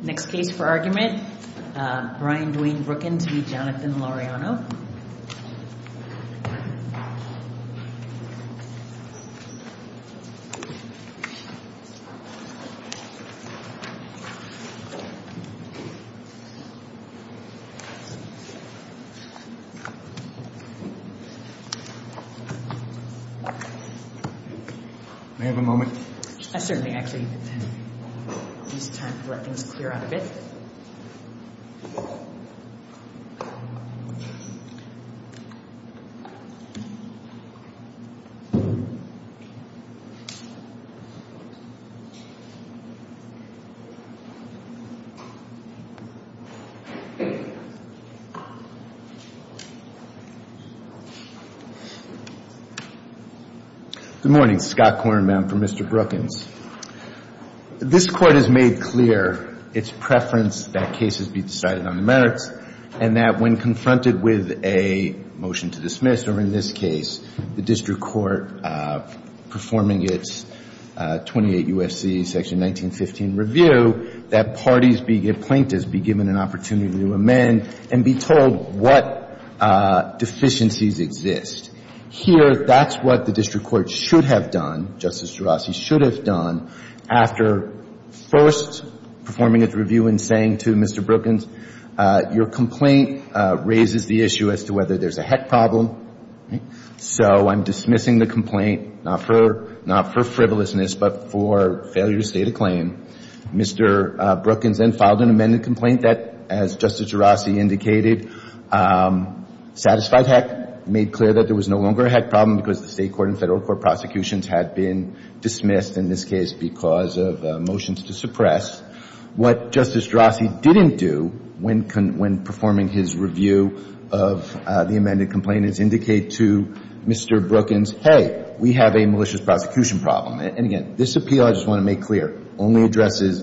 Next case for argument, Brian Dwayne Brookins v. Jonathan Laureano May I have a moment? Good morning. Scott Kornbaum for Mr. Brookins. This Court has made clear its preference that cases be decided on the merits and that when confronted with a motion to dismiss, or in this case, the district court performing its 28 U.S.C. section 1915 review, that parties be, plaintiffs be given an opportunity to amend and be told what deficiencies exist. Here, that's what the district court should have done, Justice Gerasi should have done, after first performing its review and saying to Mr. Brookins, your complaint raises the issue as to whether there's a heck problem, so I'm dismissing the complaint, not for frivolousness, but for failure to state a claim. Mr. Brookins then filed an amended complaint that, as Justice Gerasi indicated, satisfied heck, made clear that there was no longer a heck problem because the state court and federal court prosecutions had been dismissed in this case because of motions to suppress. What Justice Gerasi didn't do when performing his review of the amended complaint is indicate to Mr. Brookins, hey, we have a malicious prosecution problem. And again, this appeal, I just want to make clear, only addresses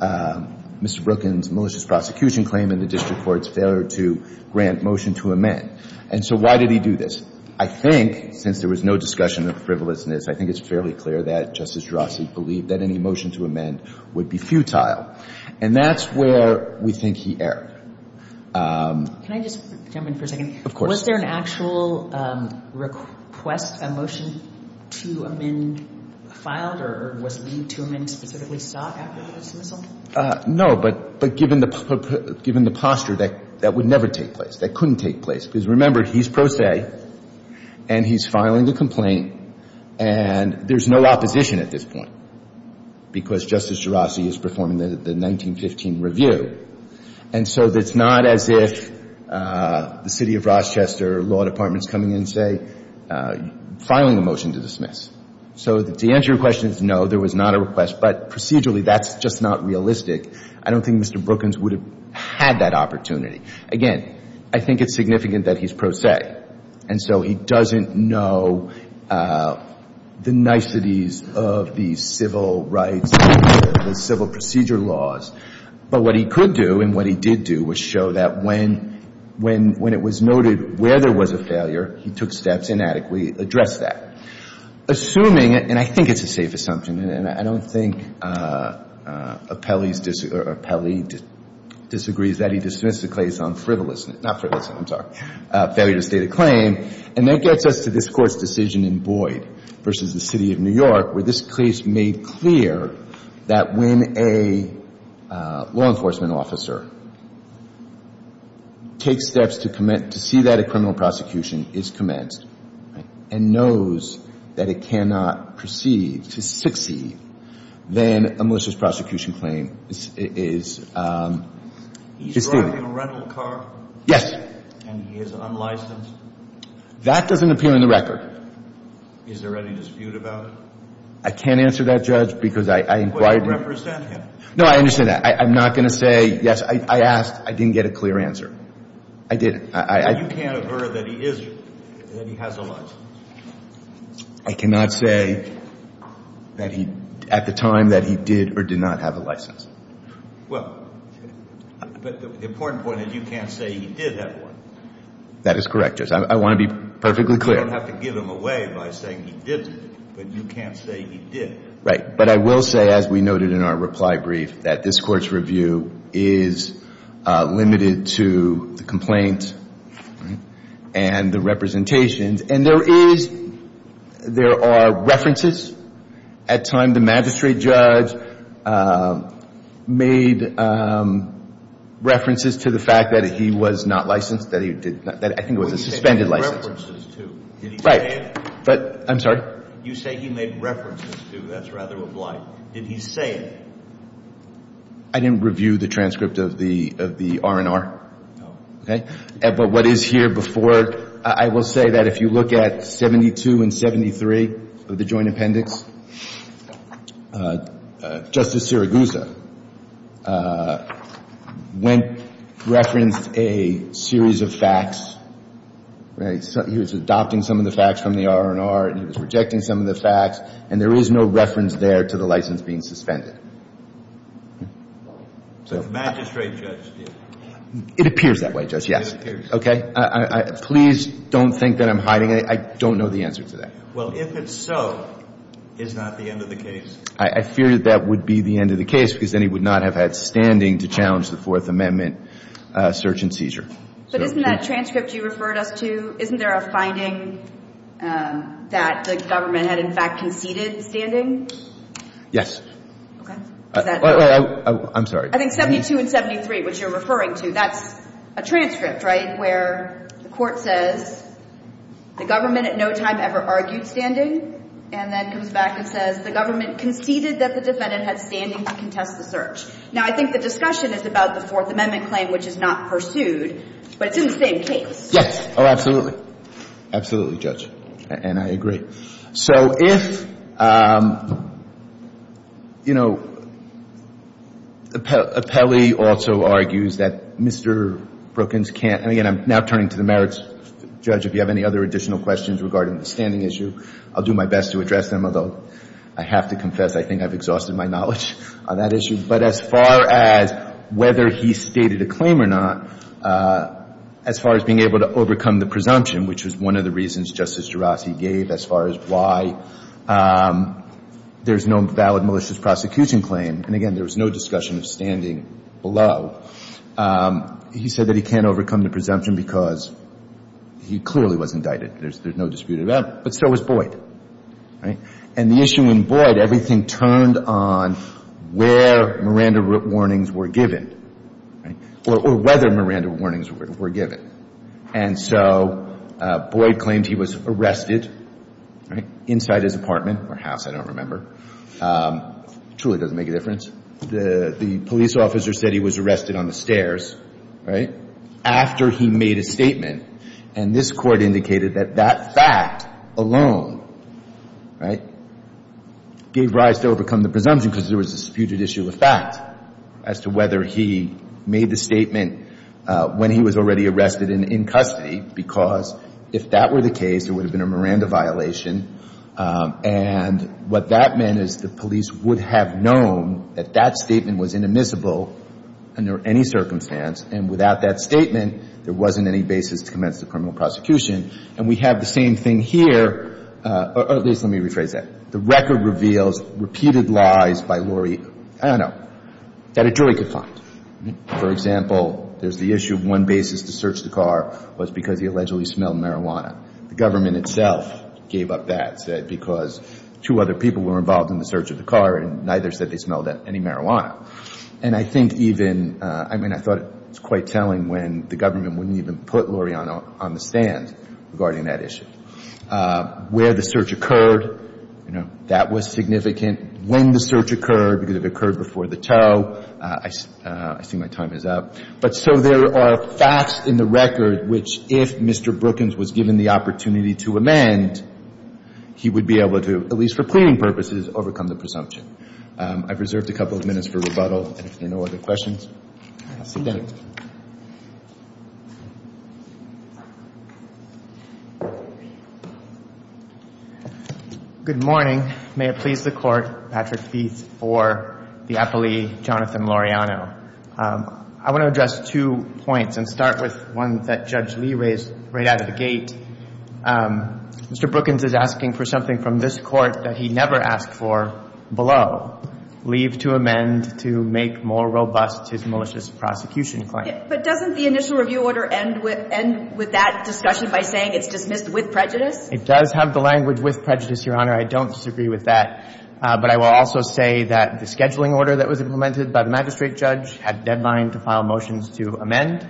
Mr. Brookins' malicious prosecution claim and the district court's failure to grant motion to amend. And so why did he do this? I think, since there was no discussion of frivolousness, I think it's fairly clear that Justice Gerasi believed that any motion to amend would be futile, and that's where we think he erred. Can I just jump in for a second? Of course. Was there an actual request, a motion to amend filed, or was the motion to amend specifically sought after the dismissal? No, but given the posture, that would never take place. That couldn't take place. Because remember, he's pro se, and he's filing the complaint, and there's no opposition at this point, because Justice Gerasi is performing the 1915 review. And so it's not as if the City of Rochester law department's coming in and, say, filing a motion to dismiss. So the answer to your question is no, there was not a request. But procedurally, that's just not realistic. I don't think Mr. Brookins would have had that opportunity. Again, I think it's significant that he's pro se, and so he doesn't know the niceties of the civil rights, the civil procedure laws. But what he could do, and what he did do, was show that when it was noted where there was a failure, he took steps and adequately addressed that. Assuming, and I think it's a safe assumption, and I don't think Appelli disagrees that he dismissed the case on frivolousness, not frivolousness, I'm sorry, failure to state a claim, and that gets us to this Court's decision in Boyd v. the City of New York, where this case made clear that when a law enforcement officer takes steps to see that a criminal prosecution is commenced and knows that it cannot proceed to succeed, then a malicious prosecution claim is due. He's driving a rental car? Yes. And he is unlicensed? That doesn't appear in the record. Is there any dispute about it? I can't answer that, Judge, because I inquired. But you represent him? No, I understand that. I'm not going to say, yes, I asked. I didn't get a clear answer. I didn't. You can't aver that he is, that he has a license? I cannot say that he, at the time that he did or did not have a license. Well, but the important point is you can't say he did have one. That is correct, Judge. I want to be perfectly clear. You don't have to give him away by saying he didn't, but you can't say he did. Right. But I will say, as we noted in our reply brief, that this Court's review is limited to the complaint and the representations. And there is, there are references at time the magistrate judge made references to the fact that he was not licensed, that he did not, that I think it was a suspended license. He made references to. Right. Did he say it? I'm sorry? You say he made references to. That's rather a blight. Did he say it? I didn't review the transcript of the R&R. No. Okay? But what is here before, I will say that if you look at 72 and 73 of the joint appendix, Justice Siragusa went, referenced a series of facts. He was adopting some of the facts from the R&R, and he was rejecting some of the facts, and there is no reference there to the license being suspended. The magistrate judge did. It appears that way, Judge, yes. It appears. Okay? Please don't think that I'm hiding anything. I don't know the answer to that. Well, if it's so, is that the end of the case? I fear that that would be the end of the case, because then he would not have had standing to challenge the Fourth Amendment search and seizure. But isn't that transcript you referred us to, isn't there a finding that the government had, in fact, conceded standing? Yes. Okay. I'm sorry. I think 72 and 73, which you're referring to, that's a transcript, right, where the court says the government at no time ever argued standing, and then comes back and says the government conceded that the defendant had standing to contest the search. Now, I think the discussion is about the Fourth Amendment claim, which is not pursued, but it's in the same case. Yes. Oh, absolutely. Absolutely, Judge, and I agree. So if, you know, Apelli also argues that Mr. Brookings can't – and again, I'm now turning to the merits judge. If you have any other additional questions regarding the standing issue, I'll do my best to address them, although I have to confess I think I've exhausted my knowledge on that issue. But as far as whether he stated a claim or not, as far as being able to overcome the presumption, which was one of the reasons Justice Gerasi gave as far as why there's no valid malicious prosecution claim, and again, there was no discussion of standing he said that he can't overcome the presumption because he clearly was indicted. There's no dispute about it. But so was Boyd, right? And the issue in Boyd, everything turned on where Miranda warnings were given, right, or whether Miranda warnings were given. And so Boyd claimed he was arrested, right, inside his apartment or house, I don't remember. It truly doesn't make a difference. The police officer said he was arrested on the stairs, right, after he made a statement. And this court indicated that that fact alone, right, gave rise to overcome the presumption because there was a disputed issue of fact as to whether he made the statement when he was already arrested and in custody because if that were the case, it would have been a Miranda violation. And what that meant is the police would have known that that statement was inadmissible under any circumstance, and without that statement, there wasn't any basis to commence the criminal prosecution. And we have the same thing here, or at least let me rephrase that. The record reveals repeated lies by Lori, I don't know, that a jury could find. For example, there's the issue of one basis to search the car was because he allegedly smelled marijuana. The government itself gave up that because two other people were involved in the search of the car and neither said they smelled any marijuana. And I think even, I mean, I thought it was quite telling when the government wouldn't even put Lori on the stand regarding that issue. Where the search occurred, you know, that was significant. When the search occurred, it could have occurred before the tow. I see my time is up. But so there are facts in the record which, if Mr. Brookings was given the opportunity to amend, he would be able to, at least for pleading purposes, overcome the presumption. I've reserved a couple of minutes for rebuttal, and if there are no other questions, I'll see you then. Good morning. May it please the Court, Patrick Feith for the appellee, Jonathan Laureano. I want to address two points and start with one that Judge Lee raised right out of the gate. Mr. Brookings is asking for something from this Court that he never asked for below, leave to amend to make more robust his malicious prosecution claim. But doesn't the initial review order end with that discussion by saying it's dismissed with prejudice? It does have the language with prejudice, Your Honor. I don't disagree with that. But I will also say that the scheduling order that was implemented by the magistrate judge had deadline to file motions to amend.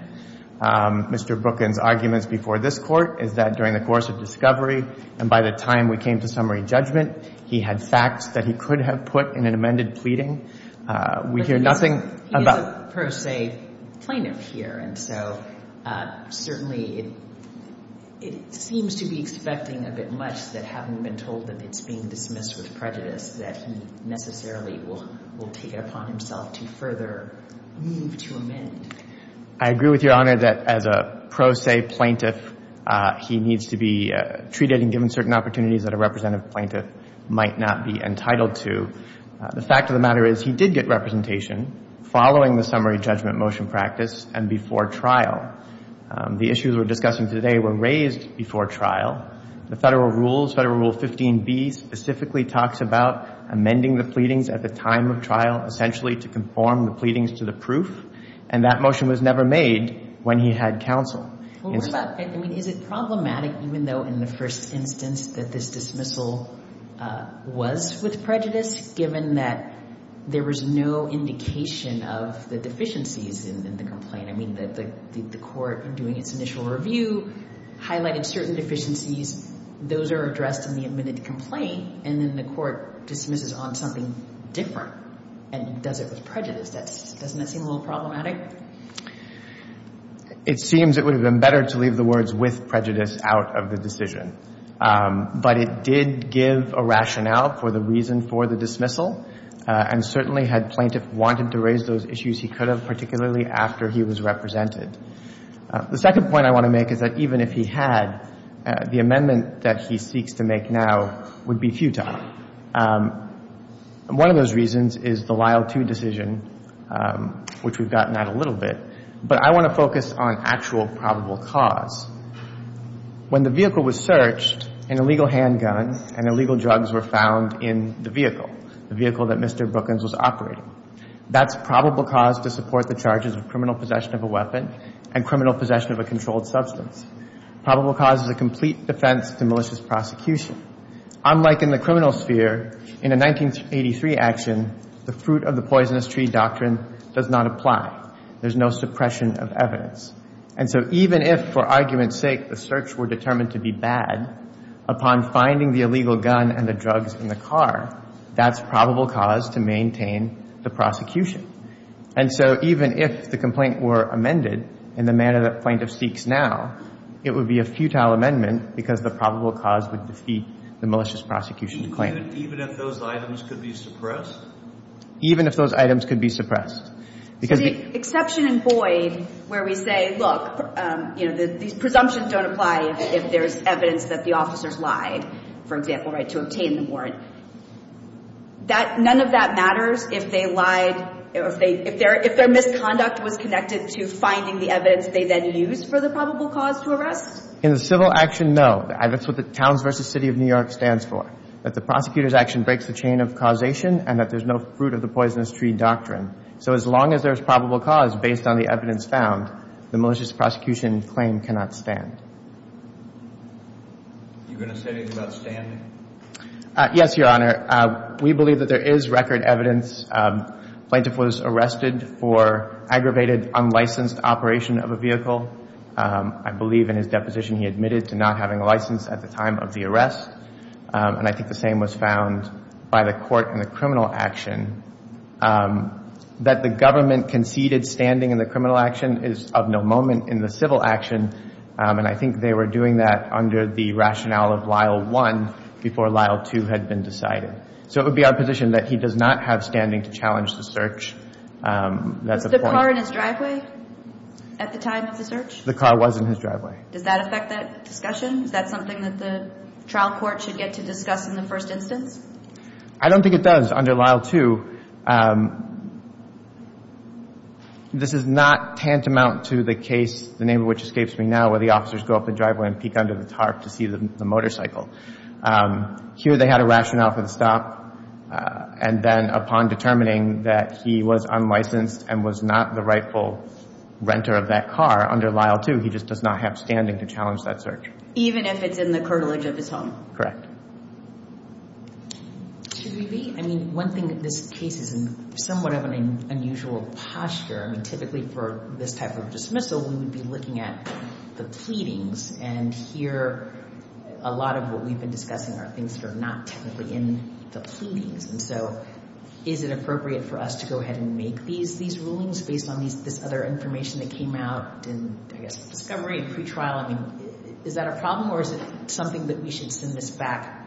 Mr. Brookings' arguments before this Court is that during the course of discovery and by the time we came to summary judgment, he had facts that he could have put in an amended pleading. We hear nothing about — But he is a pro se plaintiff here. And so certainly it seems to be expecting a bit much that having been told that it's being dismissed with prejudice, that he necessarily will take it upon himself to further move to amend. I agree with Your Honor that as a pro se plaintiff, he needs to be treated and given certain opportunities that a representative plaintiff might not be entitled to. The fact of the matter is he did get representation following the summary judgment motion practice and before trial. The issues we're discussing today were raised before trial. The Federal Rules, Federal Rule 15b specifically talks about amending the pleadings at the time of trial essentially to conform the pleadings to the proof. And that motion was never made when he had counsel. Well, what about — I mean, is it problematic even though in the first instance that this dismissal was with prejudice, given that there was no indication of the deficiencies in the complaint? I mean, the court doing its initial review highlighted certain deficiencies. Those are addressed in the admitted complaint. And then the court dismisses on something different and does it with prejudice. Doesn't that seem a little problematic? It seems it would have been better to leave the words with prejudice out of the decision. But it did give a rationale for the reason for the dismissal and certainly had plaintiff wanted to raise those issues, he could have, particularly after he was represented. The second point I want to make is that even if he had, the amendment that he seeks to make now would be futile. One of those reasons is the Lyle 2 decision, which we've gotten at a little bit. But I want to focus on actual probable cause. When the vehicle was searched, an illegal handgun and illegal drugs were found in the vehicle, the vehicle that Mr. Brookins was operating. That's probable cause to support the charges of criminal possession of a weapon and criminal possession of a controlled substance. Probable cause is a complete defense to malicious prosecution. Unlike in the criminal sphere, in a 1983 action, the fruit of the poisonous tree doctrine does not apply. There's no suppression of evidence. And so even if, for argument's sake, the search were determined to be bad, upon finding the illegal gun and the drugs in the car, that's probable cause to maintain the prosecution. And so even if the complaint were amended in the manner that plaintiff seeks now, it would be a futile amendment because the probable cause would defeat the malicious prosecution claim. Even if those items could be suppressed? Even if those items could be suppressed. So the exception in Boyd where we say, look, you know, these presumptions don't apply if there's evidence that the officers lied, for example, right, to obtain the warrant, none of that matters if they lied, if their misconduct was connected to finding the evidence they then used for the probable cause to arrest? In the civil action, no. That's what the Towns v. City of New York stands for, that the prosecutor's action breaks the chain of causation and that there's no fruit of the poisonous tree doctrine. So as long as there's probable cause based on the evidence found, the malicious prosecution claim cannot stand. You going to say anything about standing? Yes, Your Honor. We believe that there is record evidence. Plaintiff was arrested for aggravated unlicensed operation of a vehicle. I believe in his deposition he admitted to not having a license at the time of the arrest. And I think the same was found by the court in the criminal action, that the government conceded standing in the criminal action is of no moment in the civil action, and I think they were doing that under the rationale of Lyle I before Lyle II had been decided. So it would be our position that he does not have standing to challenge the search. Was the car in his driveway at the time of the search? The car was in his driveway. Does that affect that discussion? Is that something that the trial court should get to discuss in the first instance? I don't think it does under Lyle II. This is not tantamount to the case, the name of which escapes me now, where the officers go up the driveway and peek under the tarp to see the motorcycle. Here they had a rationale for the stop, and then upon determining that he was unlicensed and was not the rightful renter of that car under Lyle II, he just does not have standing to challenge that search. Even if it's in the cartilage of his home? Correct. Should we be? I mean, one thing that this case is in somewhat of an unusual posture. I mean, typically for this type of dismissal we would be looking at the pleadings, and here a lot of what we've been discussing are things that are not technically in the pleadings. And so is it appropriate for us to go ahead and make these rulings based on this other information that came out in, I guess, discovery and pretrial? I mean, is that a problem, or is it something that we should send this back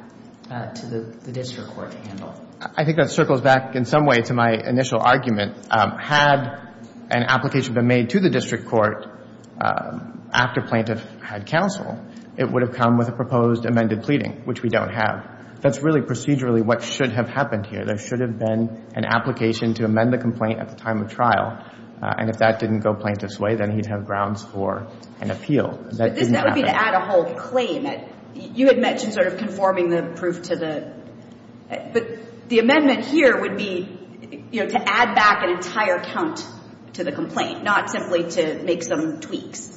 to the district court to handle? I think that circles back in some way to my initial argument. Had an application been made to the district court after plaintiff had counsel, it would have come with a proposed amended pleading, which we don't have. That's really procedurally what should have happened here. There should have been an application to amend the complaint at the time of trial, and if that didn't go plaintiff's way, then he'd have grounds for an appeal. But this would be to add a whole claim. You had mentioned sort of conforming the proof to the – but the amendment here would be, you know, to add back an entire count to the complaint, not simply to make some tweaks.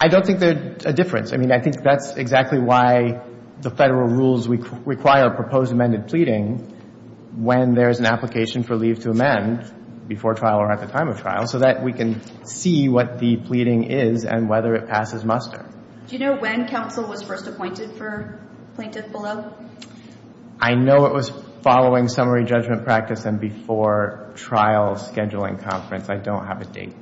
I don't think they're a difference. I mean, I think that's exactly why the Federal rules require a proposed amended pleading when there's an application for leave to amend before trial or at the time of trial, so that we can see what the pleading is and whether it passes muster. Do you know when counsel was first appointed for plaintiff below? I know it was following summary judgment practice and before trial scheduling conference. I don't have a date.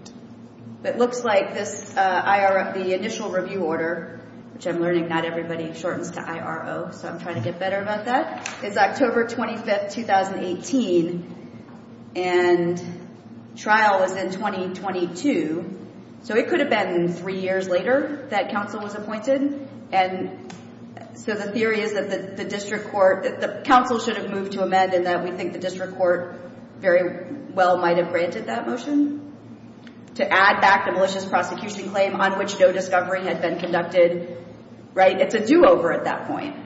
It looks like this – the initial review order, which I'm learning not everybody shortens to IRO, so I'm trying to get better about that, is October 25, 2018, and trial is in 2022. So it could have been three years later that counsel was appointed. And so the theory is that the district court – that the counsel should have moved to amend and that we think the district court very well might have granted that motion to add back the malicious prosecution claim on which no discovery had been conducted, right? It's a do-over at that point.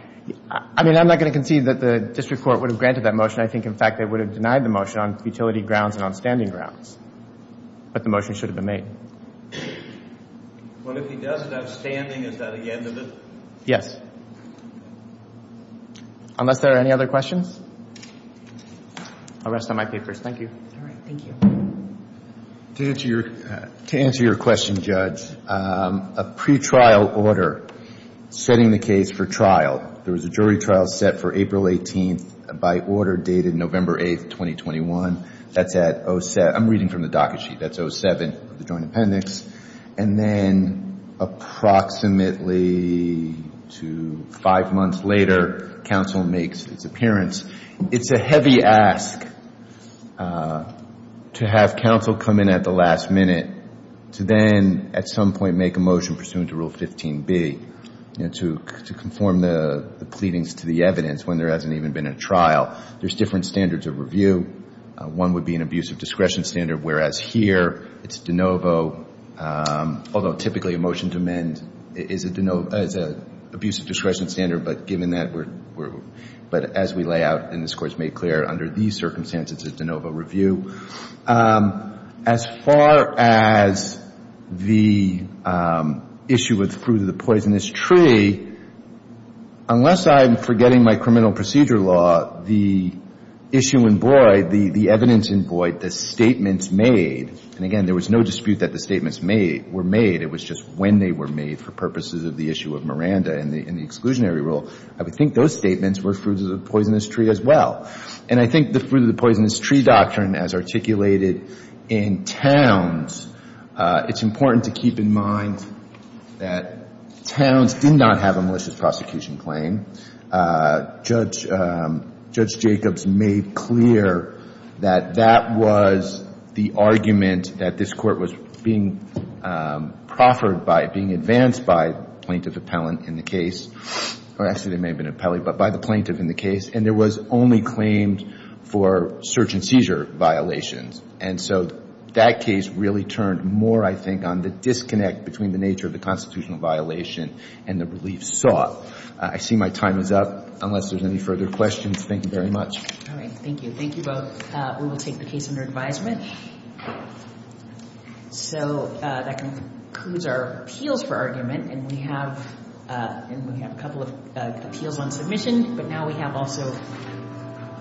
I mean, I'm not going to concede that the district court would have granted that motion. I think, in fact, they would have denied the motion on futility grounds and on standing grounds. But the motion should have been made. Well, if he does it outstanding, is that the end of it? Yes. Unless there are any other questions, I'll rest on my papers. Thank you. All right. Thank you. To answer your question, Judge, a pretrial order setting the case for trial. There was a jury trial set for April 18 by order dated November 8, 2021. That's at – I'm reading from the docket sheet. That's 07 of the Joint Appendix. And then approximately to five months later, counsel makes its appearance. It's a heavy ask to have counsel come in at the last minute to then at some point make a motion pursuant to Rule 15B to conform the pleadings to the evidence when there hasn't even been a trial. There's different standards of review. One would be an abuse of discretion standard, whereas here it's de novo, although typically a motion to amend is an abuse of discretion standard. But given that we're – but as we lay out in this Court's made clear, under these circumstances, it's a de novo review. As far as the issue with fruit of the poisonous tree, unless I'm forgetting my criminal procedure law, the issue in void, the evidence in void, the statements made – and again, there was no dispute that the statements were made. It was just when they were made for purposes of the issue of Miranda and the exclusionary rule. I would think those statements were fruit of the poisonous tree as well. And I think the fruit of the poisonous tree doctrine, as articulated in Towns, it's important to keep in mind that Towns did not have a malicious prosecution claim. Judge Jacobs made clear that that was the argument that this Court was being proffered by, being advanced by plaintiff appellant in the case. Actually, it may have been appellee, but by the plaintiff in the case. And there was only claimed for search and seizure violations. And so that case really turned more, I think, on the disconnect between the nature of the constitutional violation and the relief sought. I see my time is up, unless there's any further questions. Thank you very much. All right. Thank you. Thank you both. We will take the case under advisement. So that concludes our appeals for argument. And we have a couple of appeals on submission. But now we have also